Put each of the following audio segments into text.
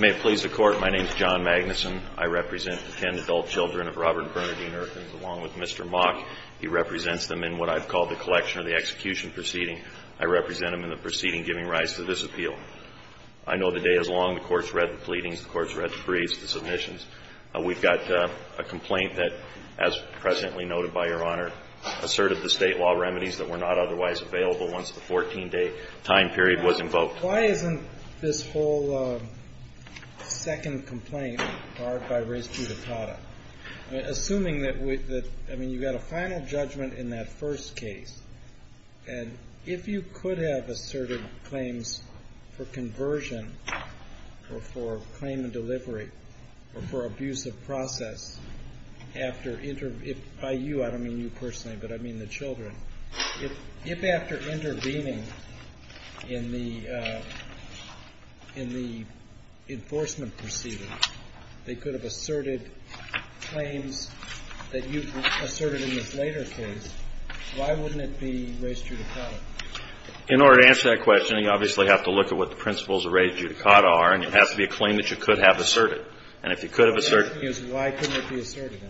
May it please the Court, my name is John Magnuson. I represent the 10 adult children of Robert Bernardine Irkins along with Mr. Mock. He represents them in what I've called the collection or the execution proceeding. I represent them in the proceeding giving rise to this appeal. I know the day is long. The Court's read the pleadings, the Court's read the briefs, the submissions. We've got a complaint that, as presently noted by Your Honor, asserted the claim period was invoked. Why isn't this whole second complaint barred by res judicata? Assuming that, I mean, you got a final judgment in that first case, and if you could have asserted claims for conversion or for claim and delivery or for abuse of process after, by you, I don't mean you personally, but I mean the children, if after intervening in the enforcement proceeding, they could have asserted claims that you asserted in this later case, why wouldn't it be res judicata? In order to answer that question, you obviously have to look at what the principles of res judicata are, and it has to be a claim that you could have asserted. And if you could have asserted them. The question is, why couldn't it be asserted?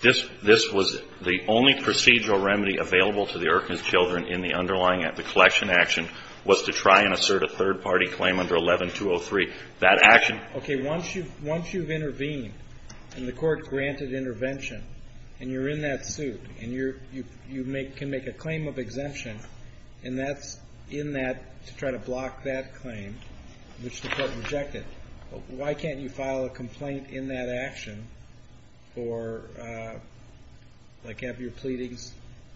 This was the only procedural remedy available to the Erkner's children in the underlying action, the collection action, was to try and assert a third-party claim under 11-203. That action Okay. Once you've intervened, and the Court granted intervention, and you're in that suit, and you can make a claim of exemption, and that's in that, to try to block that claim, which the Court rejected, why can't you file a complaint in that action for, like, have your pleadings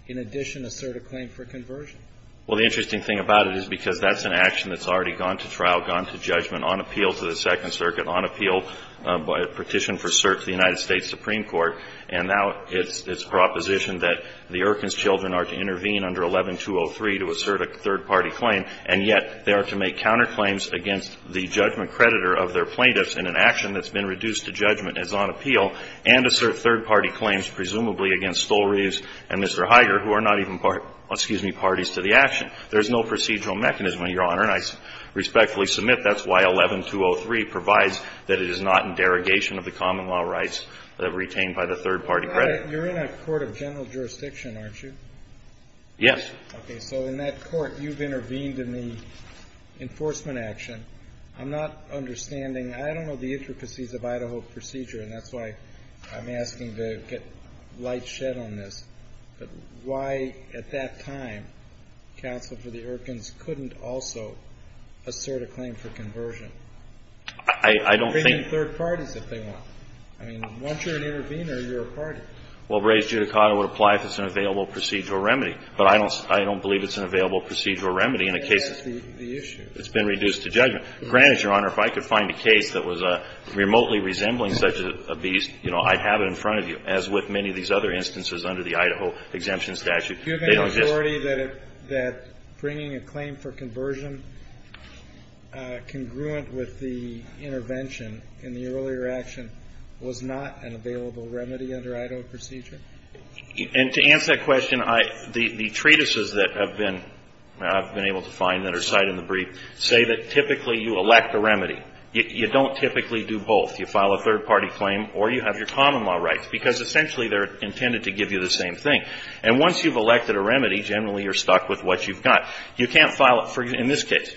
in addition assert a claim for conversion? Well, the interesting thing about it is because that's an action that's already gone to trial, gone to judgment, on appeal to the Second Circuit, on appeal by a petition for cert to the United States Supreme Court, and now it's propositioned that the Erkner's children are to intervene under 11-203 to assert a third-party claim, and yet they are to make counterclaims against the judgment creditor of their plaintiffs in an action that's been reduced to judgment and is on appeal, and assert third-party claims presumably against Stolreves and Mr. Higer, who are not even parties to the action. There's no procedural mechanism, Your Honor, and I respectfully submit that's why 11-203 provides that it is not in derogation of the common law rights that are retained by the third-party creditor. You're in a court of general jurisdiction, aren't you? Yes. Okay, so in that court, you've intervened in the enforcement action. I'm not understanding, I don't know the intricacies of Idaho procedure, and that's why I'm asking to get light shed on this, but why at that time counsel for the Erkner's couldn't also assert a claim for conversion? I don't think... They can bring in third parties if they want. I mean, once you're an intervener, you're a party. Well, Reyes-Giudicato would apply if it's an available procedural remedy, but I don't believe it's an available procedural remedy in a case that's been reduced to judgment. That's the issue. Granted, Your Honor, if I could find a case that was remotely resembling such a beast, you know, I'd have it in front of you, as with many of these other instances under the Idaho exemption statute. Do you have any authority that bringing a claim for conversion congruent with the intervention in the earlier action was not an available remedy under Idaho procedure? And to answer that question, the treatises that have been, I've been able to find that are cited in the brief, say that typically you elect a remedy. You don't typically do both. You file a third-party claim or you have your common law rights, because essentially they're intended to give you the same thing. And once you've elected a remedy, generally you're stuck with what you've got. You can't file it for, in this case,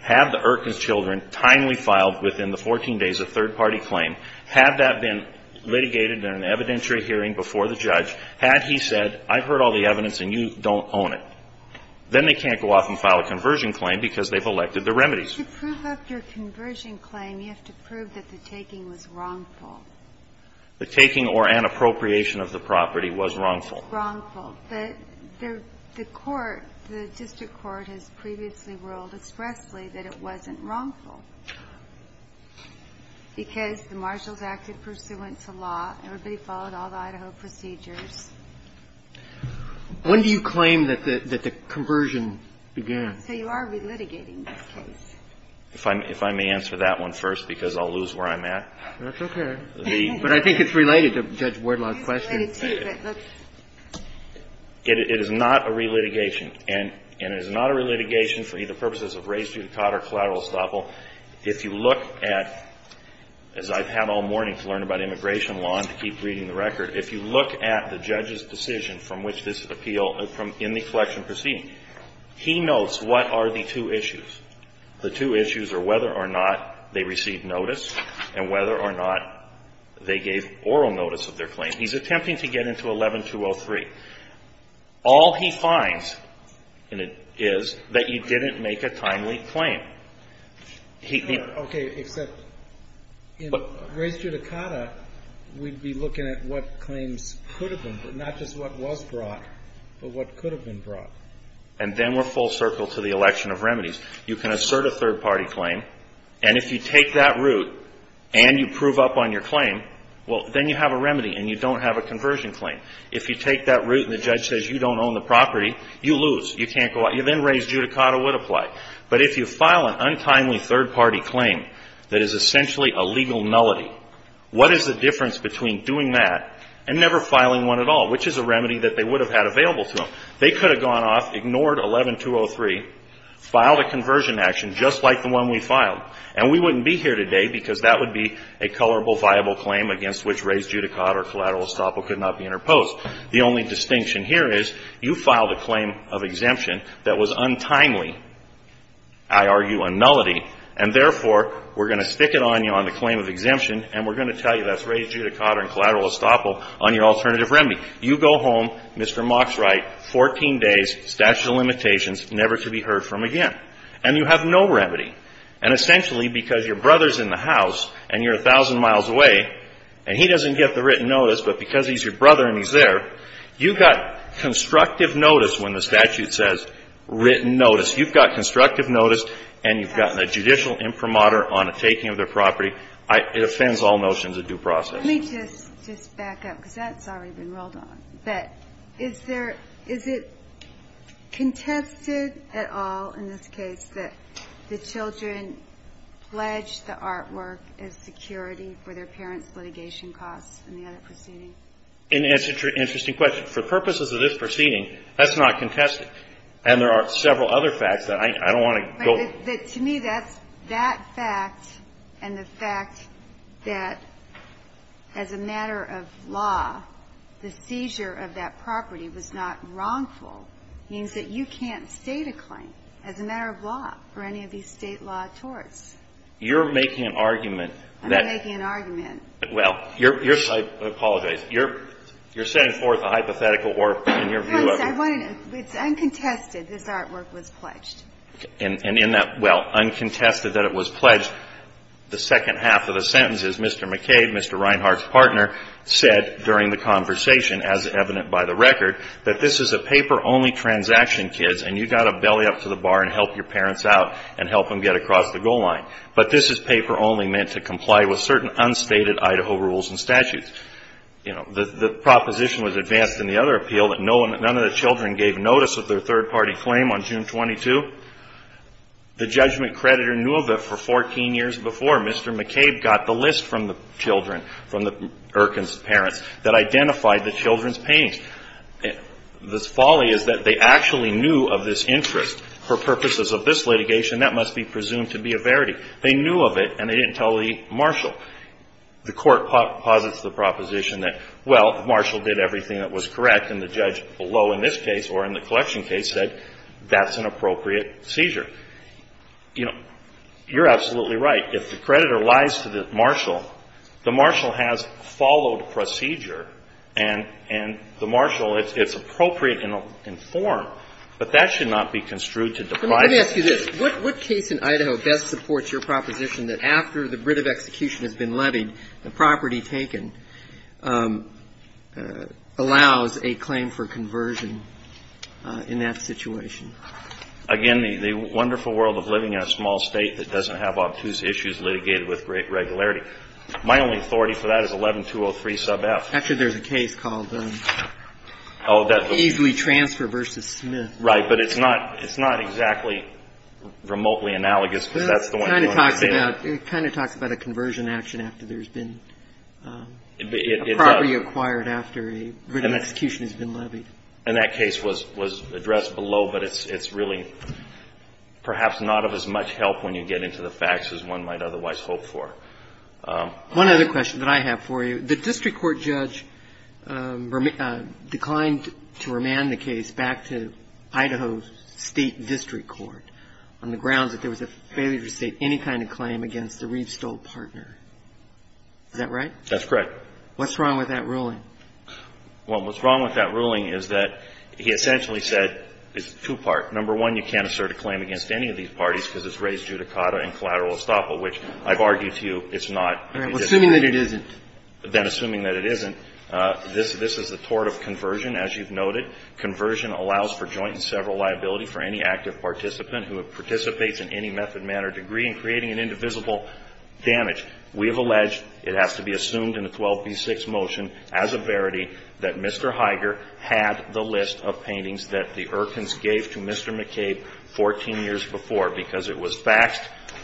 have the Erkner's children timely filed within the 14 days of third-party claim, had that been litigated in an evidentiary hearing before the judge, had he said, I've heard all the evidence and you don't own it, then they can't go off and file a conversion claim because they've elected the remedies. But to prove up your conversion claim, you have to prove that the taking was wrongful. The taking or an appropriation of the property was wrongful. Wrongful. But the court, the district court has previously ruled expressly that it wasn't wrongful. Because the marshals acted pursuant to law, everybody followed all the Idaho procedures. When do you claim that the conversion began? So you are re-litigating this case. If I may answer that one first, because I'll lose where I'm at. That's okay. But I think it's related to Judge Wardlaw's question. It is related to, but let's It is not a re-litigation. And it is not a re-litigation for either purposes of race, judicata, or collateral estoppel. If you look at, as I've had all morning to learn about immigration law and to keep reading the record, if you look at the judge's decision from which this appeal, from in the collection proceeding, he notes what are the two issues. The two issues are whether or not they received notice and whether or not they gave oral notice of their claim. He's attempting to get into 11-203. All he finds is that you didn't make a timely claim. Okay, except in race judicata, we'd be looking at what claims could have been, but not just what was brought, but what could have been brought. And then we're full circle to the election of remedies. You can assert a third-party claim, and if you take that route and you prove up on your claim, well, then you have a remedy and you don't have a conversion claim. If you take that route and the judge says you don't own the property, you lose. You can't go out. You then race judicata would apply. But if you file an untimely third-party claim that is essentially a legal nullity, what is the difference between doing that and never filing one at all, which is a remedy that they would have had available to them? They could have gone off, ignored 11-203, filed a conversion action just like the one we filed, and we wouldn't be here today because that would be a colorable, viable claim against which race judicata or collateral estoppel could not be interposed. The only distinction here is you filed a claim of exemption that was untimely, I argue, a nullity, and therefore, we're going to stick it on you on the claim of exemption, and we're going to tell you that's race judicata and collateral estoppel on your alternative remedy. You go home, Mr. Mock's right, 14 days, statute of limitations, never to be heard from again, and you have no remedy. And essentially, because your brother's in the house and you're 1,000 miles away, and he doesn't get the written notice, but because he's your brother and he's there, you've got constructive notice when the statute says written notice. You've got constructive notice, and you've gotten a judicial imprimatur on a taking of their property. It offends all notions of due process. Let me just back up, because that's already been rolled on. But is it contested at all in this case that the children pledge the artwork as security for their parents' litigation costs in the other proceeding? And it's an interesting question. For purposes of this proceeding, that's not contested. And there are several other facts that I don't want to go over. But to me, that fact and the fact that as a matter of law, the seizure of that property was not wrongful, means that you can't state a claim as a matter of law for any of these state law torts. You're making an argument that... I'm not making an argument. Well, you're... I apologize. You're setting forth a hypothetical or, in your view... No, I'm saying, it's uncontested this artwork was pledged. And in that, well, uncontested that it was pledged, the second half of the sentence is Mr. McCabe, Mr. Reinhart's partner, said during the conversation, as evident by the record, that this is a paper-only transaction, kids, and you've got to belly up to the bar and help your parents out and help them get across the goal line. But this is paper-only meant to comply with certain unstated Idaho rules and statutes. You know, the proposition was advanced in the other appeal that none of the children gave notice of their third-party claim on June 22. The judgment creditor knew of it for 14 years before. Mr. McCabe got the list from the children, from the Erkin's parents, that identified the children's pain. This folly is that they actually knew of this interest. For purposes of this litigation, that must be presumed to be a verity. They knew of it, and they didn't tell the marshal. The court posits the proposition that, well, the marshal did everything that was correct, and the judge below in this case or in the collection case said that's an appropriate seizure. You know, you're absolutely right. If the creditor lies to the marshal, the marshal has followed procedure, and the marshal, it's appropriate and informed. But that should not be construed to deprive you of the right to do so. But let me ask you this. What case in Idaho best supports your proposition that after the writ of execution has been levied, the property taken allows a claim for conversion in that situation? Again, the wonderful world of living in a small state that doesn't have obtuse issues litigated with great regularity. My only authority for that is 11-203-sub-F. Actually, there's a case called Easily Transfer versus Smith. Right. But it's not exactly remotely analogous, because that's the one you understand. It kind of talks about a conversion action after there's been property acquired after a written execution has been levied. And that case was addressed below, but it's really perhaps not of as much help when you get into the facts as one might otherwise hope for. One other question that I have for you. The district court judge declined to remand the case back to Idaho's state district court on the grounds that there was a failure to state any kind of claim against the Reeves-Stoll partner. Is that right? That's correct. What's wrong with that ruling? Well, what's wrong with that ruling is that he essentially said it's two-part. Number one, you can't assert a claim against any of these parties because it's raised judicata and collateral estoppel, which I've argued to you it's not. Well, assuming that it isn't. Then assuming that it isn't, this is the tort of conversion, as you've noted. Conversion allows for joint and several liability for any active participant who participates in any method, manner, degree in creating an indivisible damage. We have alleged it has to be assumed in the 12b-6 motion as a verity that Mr. Higer had the list of paintings that the Erkins gave to Mr. McCabe 14 years before, because it was faxed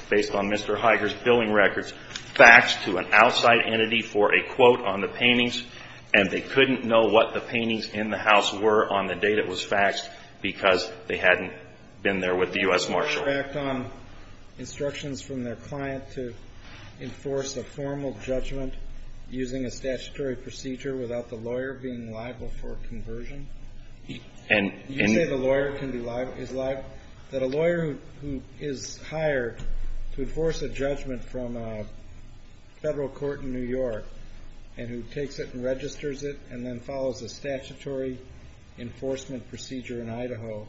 based on Mr. Higer's billing records, faxed to an outside entity for a quote on the paintings, and they couldn't know what the paintings in the house were on the day that it was faxed because they hadn't been there with the U.S. Marshal. Can a lawyer act on instructions from their client to enforce a formal judgment using a statutory procedure without the lawyer being liable for conversion? You say the lawyer can be liable, that a lawyer who is hired to enforce a judgment from a federal court in New York and who takes it and registers it and then follows a statutory enforcement procedure in Idaho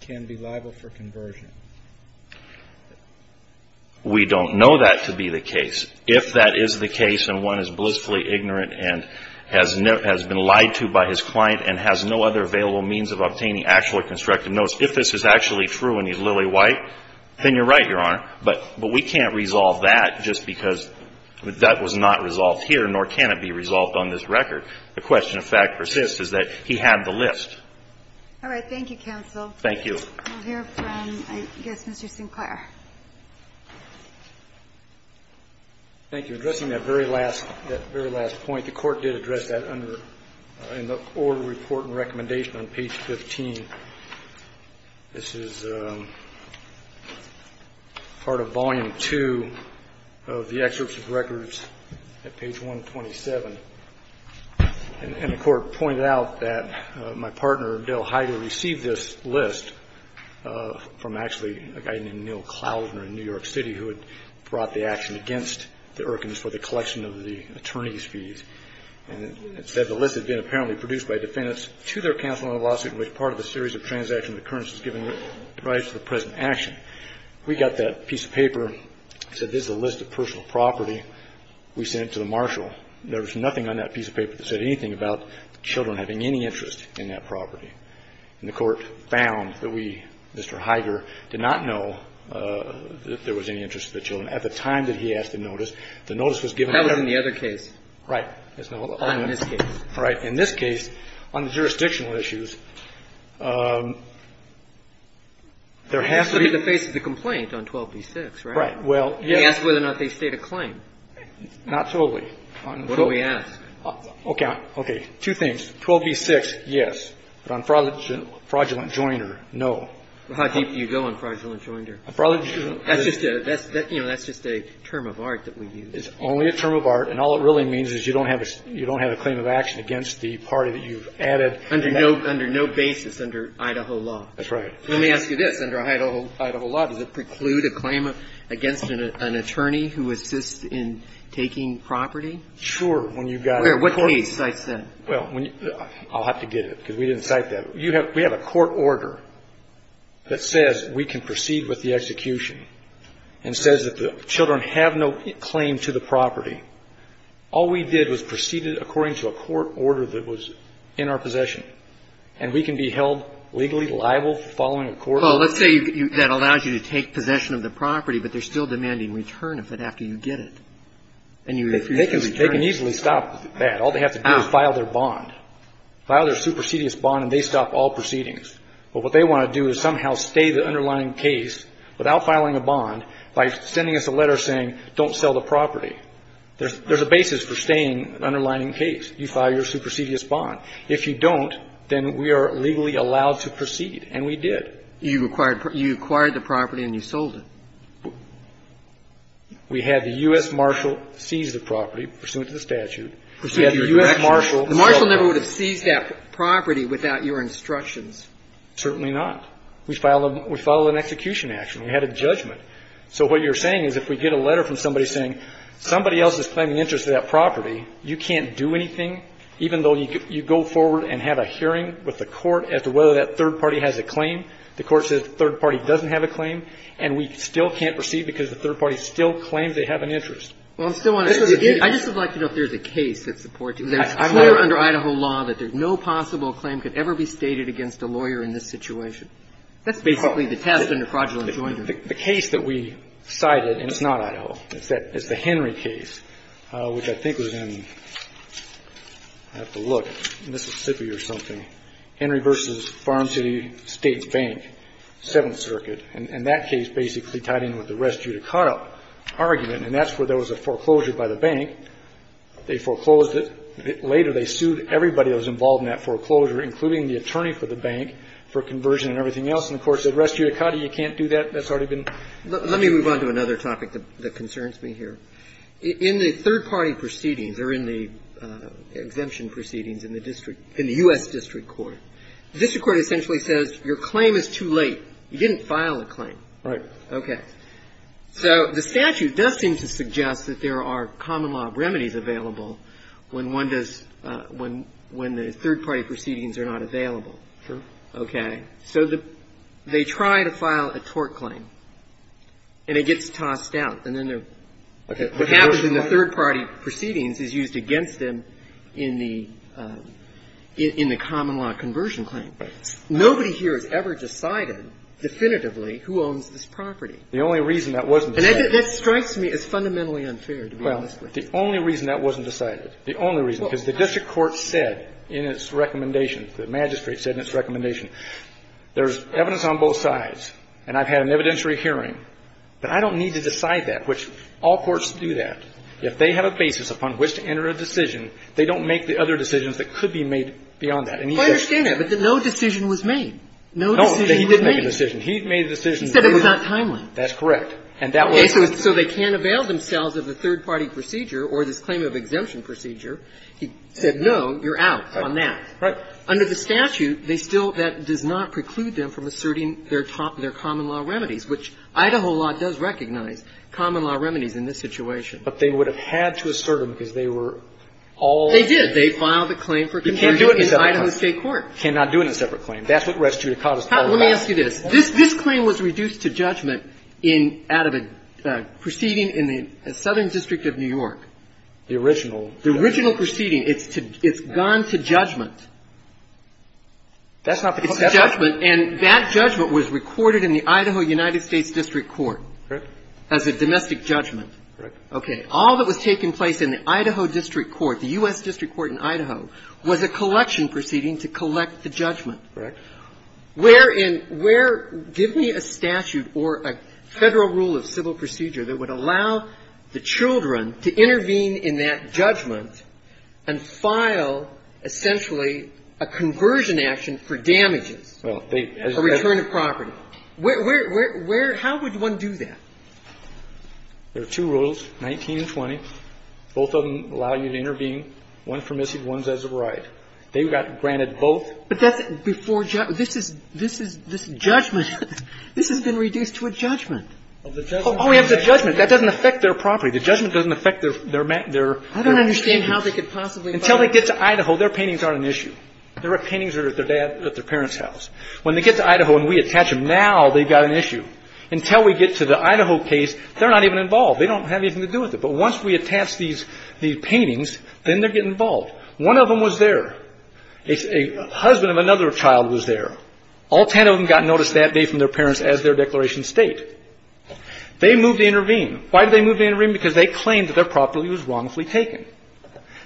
can be liable for conversion. We don't know that to be the case. If that is the case and one is blissfully ignorant and has been lied to by his client and has no other available means of obtaining actually constructed notes, if this is actually true and he's lily white, then you're right, Your Honor, but we can't resolve that just because that was not resolved here, nor can it be resolved on this record. The question, in fact, persists, is that he had the list. All right. Thank you, counsel. Thank you. We'll hear from, I guess, Mr. Sinclair. Thank you. In addressing that very last point, the Court did address that under the order of report and recommendation on page 15. This is part of volume 2 of the excerpts of records at page 127. And the Court pointed out that my partner, Dale Heider, received this list from actually a guy named Neil Klausner in New York City who had brought the action against the Erkins for the collection of the attorney's fees. And it said the list had been apparently produced by defendants to their counsel in a lawsuit in which part of a series of transactional occurrences given rise to the present action. We got that piece of paper and said, this is a list of personal property. We sent it to the marshal. There was nothing on that piece of paper that said anything about children having any interest in that property. And the Court found that we, Mr. Heider, did not know that there was any interest in children at the time that he asked to notice. The notice was given. That was in the other case. Right. Not in this case. Right. In this case, on the jurisdictional issues, there has to be the face of the complaint on 12b-6, right? Right. Well, yes. We asked whether or not they state a claim. Not totally. What do we ask? Okay. Okay. Two things. 12b-6, yes. But on fraudulent joinder, no. Fraudulent joinder. That's just a, that's, you know, that's a, that's a, that's a, that's a, that's a, that's You know, that's just a term of art that we've used. It's only a term of art and all it really means is you don't have, you don't have a claim of action against the party that you've added. Under no, under no basis under Idaho law. That's right. Let me ask you this. Under Idaho, Idaho law, does it preclude a claim against an attorney who assists in taking property? Sure. When you've got a court. Where, what case? Well. I'll have to give it because we didn't cite that. We have a court order that says we can proceed with the execution and says that there children have no claim to the property. All we did was proceeded according to a court order that was in our possession. And we can be held legally liable following a court order. Well, let's say that allows you to take possession of the property, but they're still demanding return of it after you get it. And you. They can easily stop that. All they have to do is file their bond. File their supersedious bond and they stop all proceedings. But what they want to do is somehow stay the underlying case without filing a bond by sending us a letter saying don't sell the property. There's a basis for staying an underlying case. You file your supersedious bond. If you don't, then we are legally allowed to proceed. And we did. You acquired the property and you sold it. We had the U.S. marshal seize the property pursuant to the statute. The marshal never would have seized that property without your instructions. Certainly not. We filed an execution action. We had a judgment. So what you're saying is if we get a letter from somebody saying somebody else is claiming interest in that property, you can't do anything, even though you go forward and have a hearing with the court as to whether that third party has a claim. The court says the third party doesn't have a claim. And we still can't proceed because the third party still claims they have an interest. Well, I'm still wondering. I just would like to know if there's a case that supports it. It's clear under Idaho law that no possible claim could ever be stated against a lawyer in this situation. That's basically the test under fraudulent enjoyment. The case that we cited, and it's not Idaho. It's the Henry case, which I think was in, I have to look, Mississippi or something. Henry v. Farm City States Bank, Seventh Circuit. And that case basically tied in with the rest due to caught up argument. And that's where there was a foreclosure by the bank. They foreclosed it. Later they sued everybody that was involved in that foreclosure, including the attorney for the bank, for conversion and everything else. And of course, the rest due to caught up, you can't do that. That's already been. Let me move on to another topic that concerns me here. In the third party proceedings or in the exemption proceedings in the district, in the U.S. district court, the district court essentially says your claim is too late. You didn't file a claim. Right. Okay. So the statute does seem to suggest that there are common law remedies available when one does, when the third party proceedings are not available. True. Okay. So they try to file a tort claim and it gets tossed out. And then what happens in the third party proceedings is used against them in the common law conversion claim. Nobody here has ever decided definitively who owns this property. The only reason that wasn't decided. And that strikes me as fundamentally unfair, to be honest with you. The court said in its recommendation, the magistrate said in its recommendation, there's evidence on both sides and I've had an evidentiary hearing, but I don't need to decide that, which all courts do that. If they have a basis upon which to enter a decision, they don't make the other decisions that could be made beyond that. I understand that, but no decision was made. No decision was made. No, he did make a decision. He made a decision. He said it was not timely. That's correct. And that was. And so they can't avail themselves of the third party procedure or this claim of exemption procedure. He said, no, you're out on that. Right. Under the statute, they still, that does not preclude them from asserting their top, their common law remedies, which Idaho law does recognize common law remedies in this situation. But they would have had to assert them because they were all. They filed a claim for conversion in Idaho state court. You can't do it in a separate claim. You cannot do it in a separate claim. That's what restitute a cause is all about. Let me ask you this. This claim was reduced to judgment in, out of a proceeding in the Southern District of New York. The original. The original proceeding. It's gone to judgment. That's not. It's judgment. And that judgment was recorded in the Idaho United States District Court. Correct. As a domestic judgment. Correct. Okay. All that was taking place in the Idaho District Court, the U.S. District Court in Idaho, was a collection proceeding to collect the judgment. Correct. Where in, where, give me a statute or a Federal rule of civil procedure that would allow the children to intervene in that judgment and file essentially a conversion action for damages. Well, they. A return of property. Where, where, where, where, how would one do that? There are two rules, 19 and 20. Both of them allow you to intervene. One for missing, one's as of right. They got granted both. But that's. Before. This is, this is, this judgment. This has been reduced to a judgment. All we have is a judgment. That doesn't affect their property. The judgment doesn't affect their, their, their. I don't understand how they could possibly. Until they get to Idaho, their paintings aren't an issue. Their paintings are at their dad, at their parents' house. When they get to Idaho and we attach them now, they've got an issue. Until we get to the Idaho case, they're not even involved. They don't have anything to do with it. But once we attach these, these paintings, then they get involved. One of them was there. A husband of another child was there. All ten of them got notice that day from their parents as their declaration of state. They moved to intervene. Why did they move to intervene? Because they claimed that their property was wrongfully taken.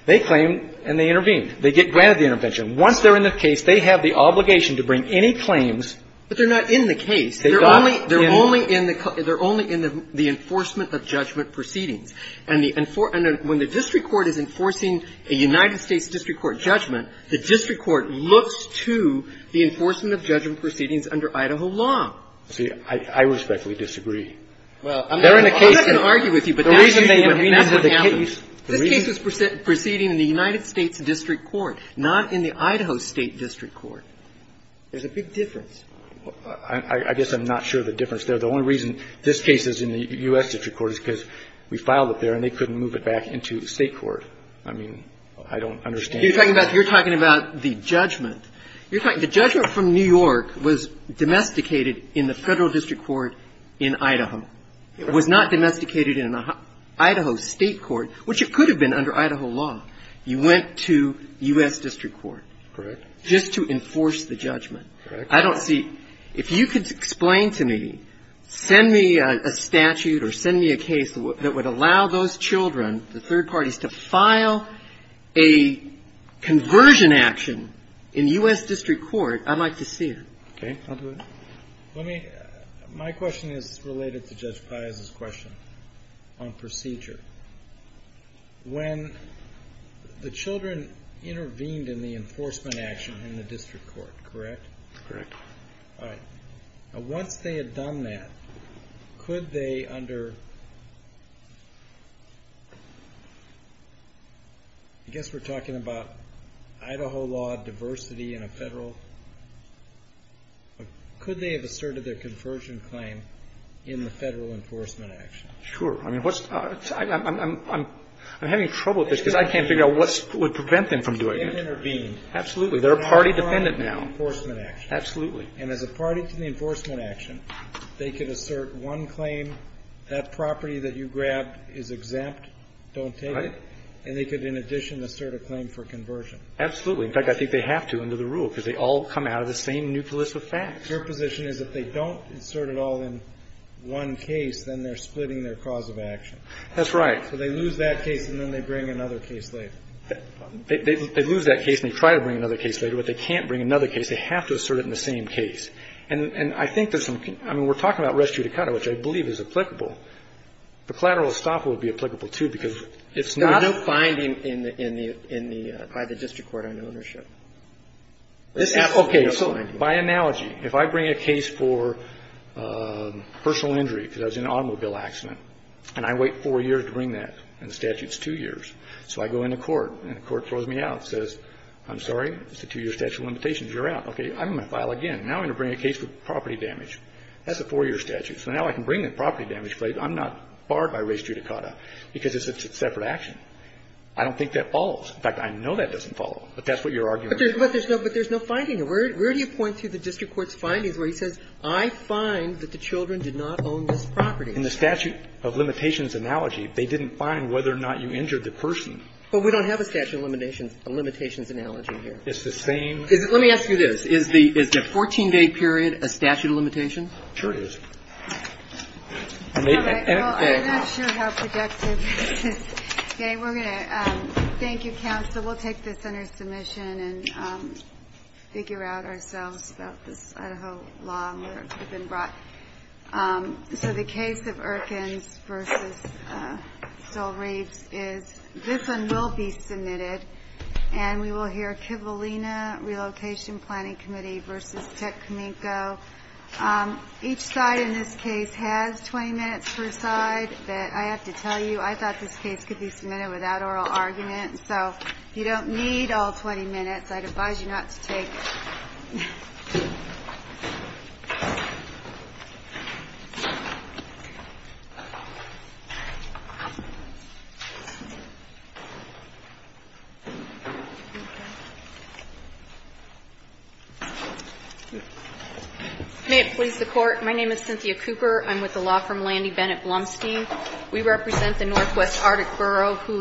They claimed and they intervened. They get granted the intervention. Once they're in the case, they have the obligation to bring any claims. But they're not in the case. They're only, they're only in the, they're only in the enforcement of judgment proceedings. And the, and for, and when the district court is enforcing a United States district court judgment, the district court looks to the enforcement of judgment proceedings under Idaho law. See, I respectfully disagree. Well, I'm not going to argue with you, but that's usually what happens. They're in the case. The reason they can remember the case. This case was proceeding in the United States district court, not in the Idaho state district court. There's a big difference. I guess I'm not sure of the difference there. The only reason this case is in the U.S. district court is because we filed it there and they couldn't move it back into the state court. I mean, I don't understand. You're talking about, you're talking about the judgment. You're talking, the judgment from New York was domesticated in the federal district court in Idaho. It was not domesticated in an Idaho state court, which it could have been under Idaho law. You went to U.S. district court. Correct. Just to enforce the judgment. Correct. I don't see, if you could explain to me, send me a statute or send me a case that would allow those children, the third parties, to file a, a, a case that would allow conversion action in U.S. district court. I'd like to see it. Okay. I'll do it. Let me, my question is related to Judge Piazza's question on procedure. When the children intervened in the enforcement action in the district court, correct? Correct. All right. Now, once they had done that, could they under, I guess we're talking about Idaho law diversity in a federal, could they have asserted their conversion claim in the federal enforcement action? Sure. I mean, what's, I'm, I'm, I'm, I'm having trouble with this because I can't figure out what would prevent them from doing it. They intervened. Absolutely. They're a party dependent now. In the enforcement action. Absolutely. And as a party to the enforcement action, they could assert one claim, that property that you grabbed is exempt, don't take it. Right. And they could, in addition, assert a claim for conversion. Absolutely. In fact, I think they have to under the rule because they all come out of the same nucleus of facts. Your position is that they don't insert it all in one case, then they're splitting their cause of action. That's right. So they lose that case and then they bring another case later. They lose that case and they try to bring another case later, but they can't bring another case. They have to assert it in the same case. And, and I think there's some, I mean, we're talking about res judicata, which I believe is applicable. The collateral estoppel would be applicable too because it's not. There's no binding in the, in the, by the district court on ownership. Okay. So by analogy, if I bring a case for personal injury because I was in an automobile accident and I wait four years to bring that and the statute's two years. So I go into court and the court throws me out and says, I'm sorry, it's a two-year statute of limitations. You're out. Okay. I'm going to file again. Now I'm going to bring a case for property damage. That's a four-year statute. So now I can bring the property damage case. I'm not barred by res judicata because it's a separate action. I don't think that follows. In fact, I know that doesn't follow, but that's what you're arguing. But there's no, but there's no finding. Where, where do you point to the district court's findings where he says, I find that the children did not own this property. In the statute of limitations analogy, they didn't find whether or not you injured the person. Well, we don't have a statute of limitations, a limitations analogy here. It's the same. Let me ask you this. Is the, is the 14-day period a statute of limitation? Sure it is. Okay. Well, I'm not sure how projective this is. Okay. We're going to, thank you, counsel. We'll take this under submission and figure out ourselves about this Idaho law and whether it could have been brought. So the case of Erkins versus Sol Reeves is, this one will be submitted. And we will hear Kivalina Relocation Planning Committee versus Tech Cominco. Each side in this case has 20 minutes per side. But I have to tell you, I thought this case could be submitted without oral argument. So if you don't need all 20 minutes, I'd advise you not to take. Thank you. Thank you. May it please the Court, my name is Cynthia Cooper. I'm with the law firm Landy Bennett Blumstein. We represent the northwest Arctic Borough, who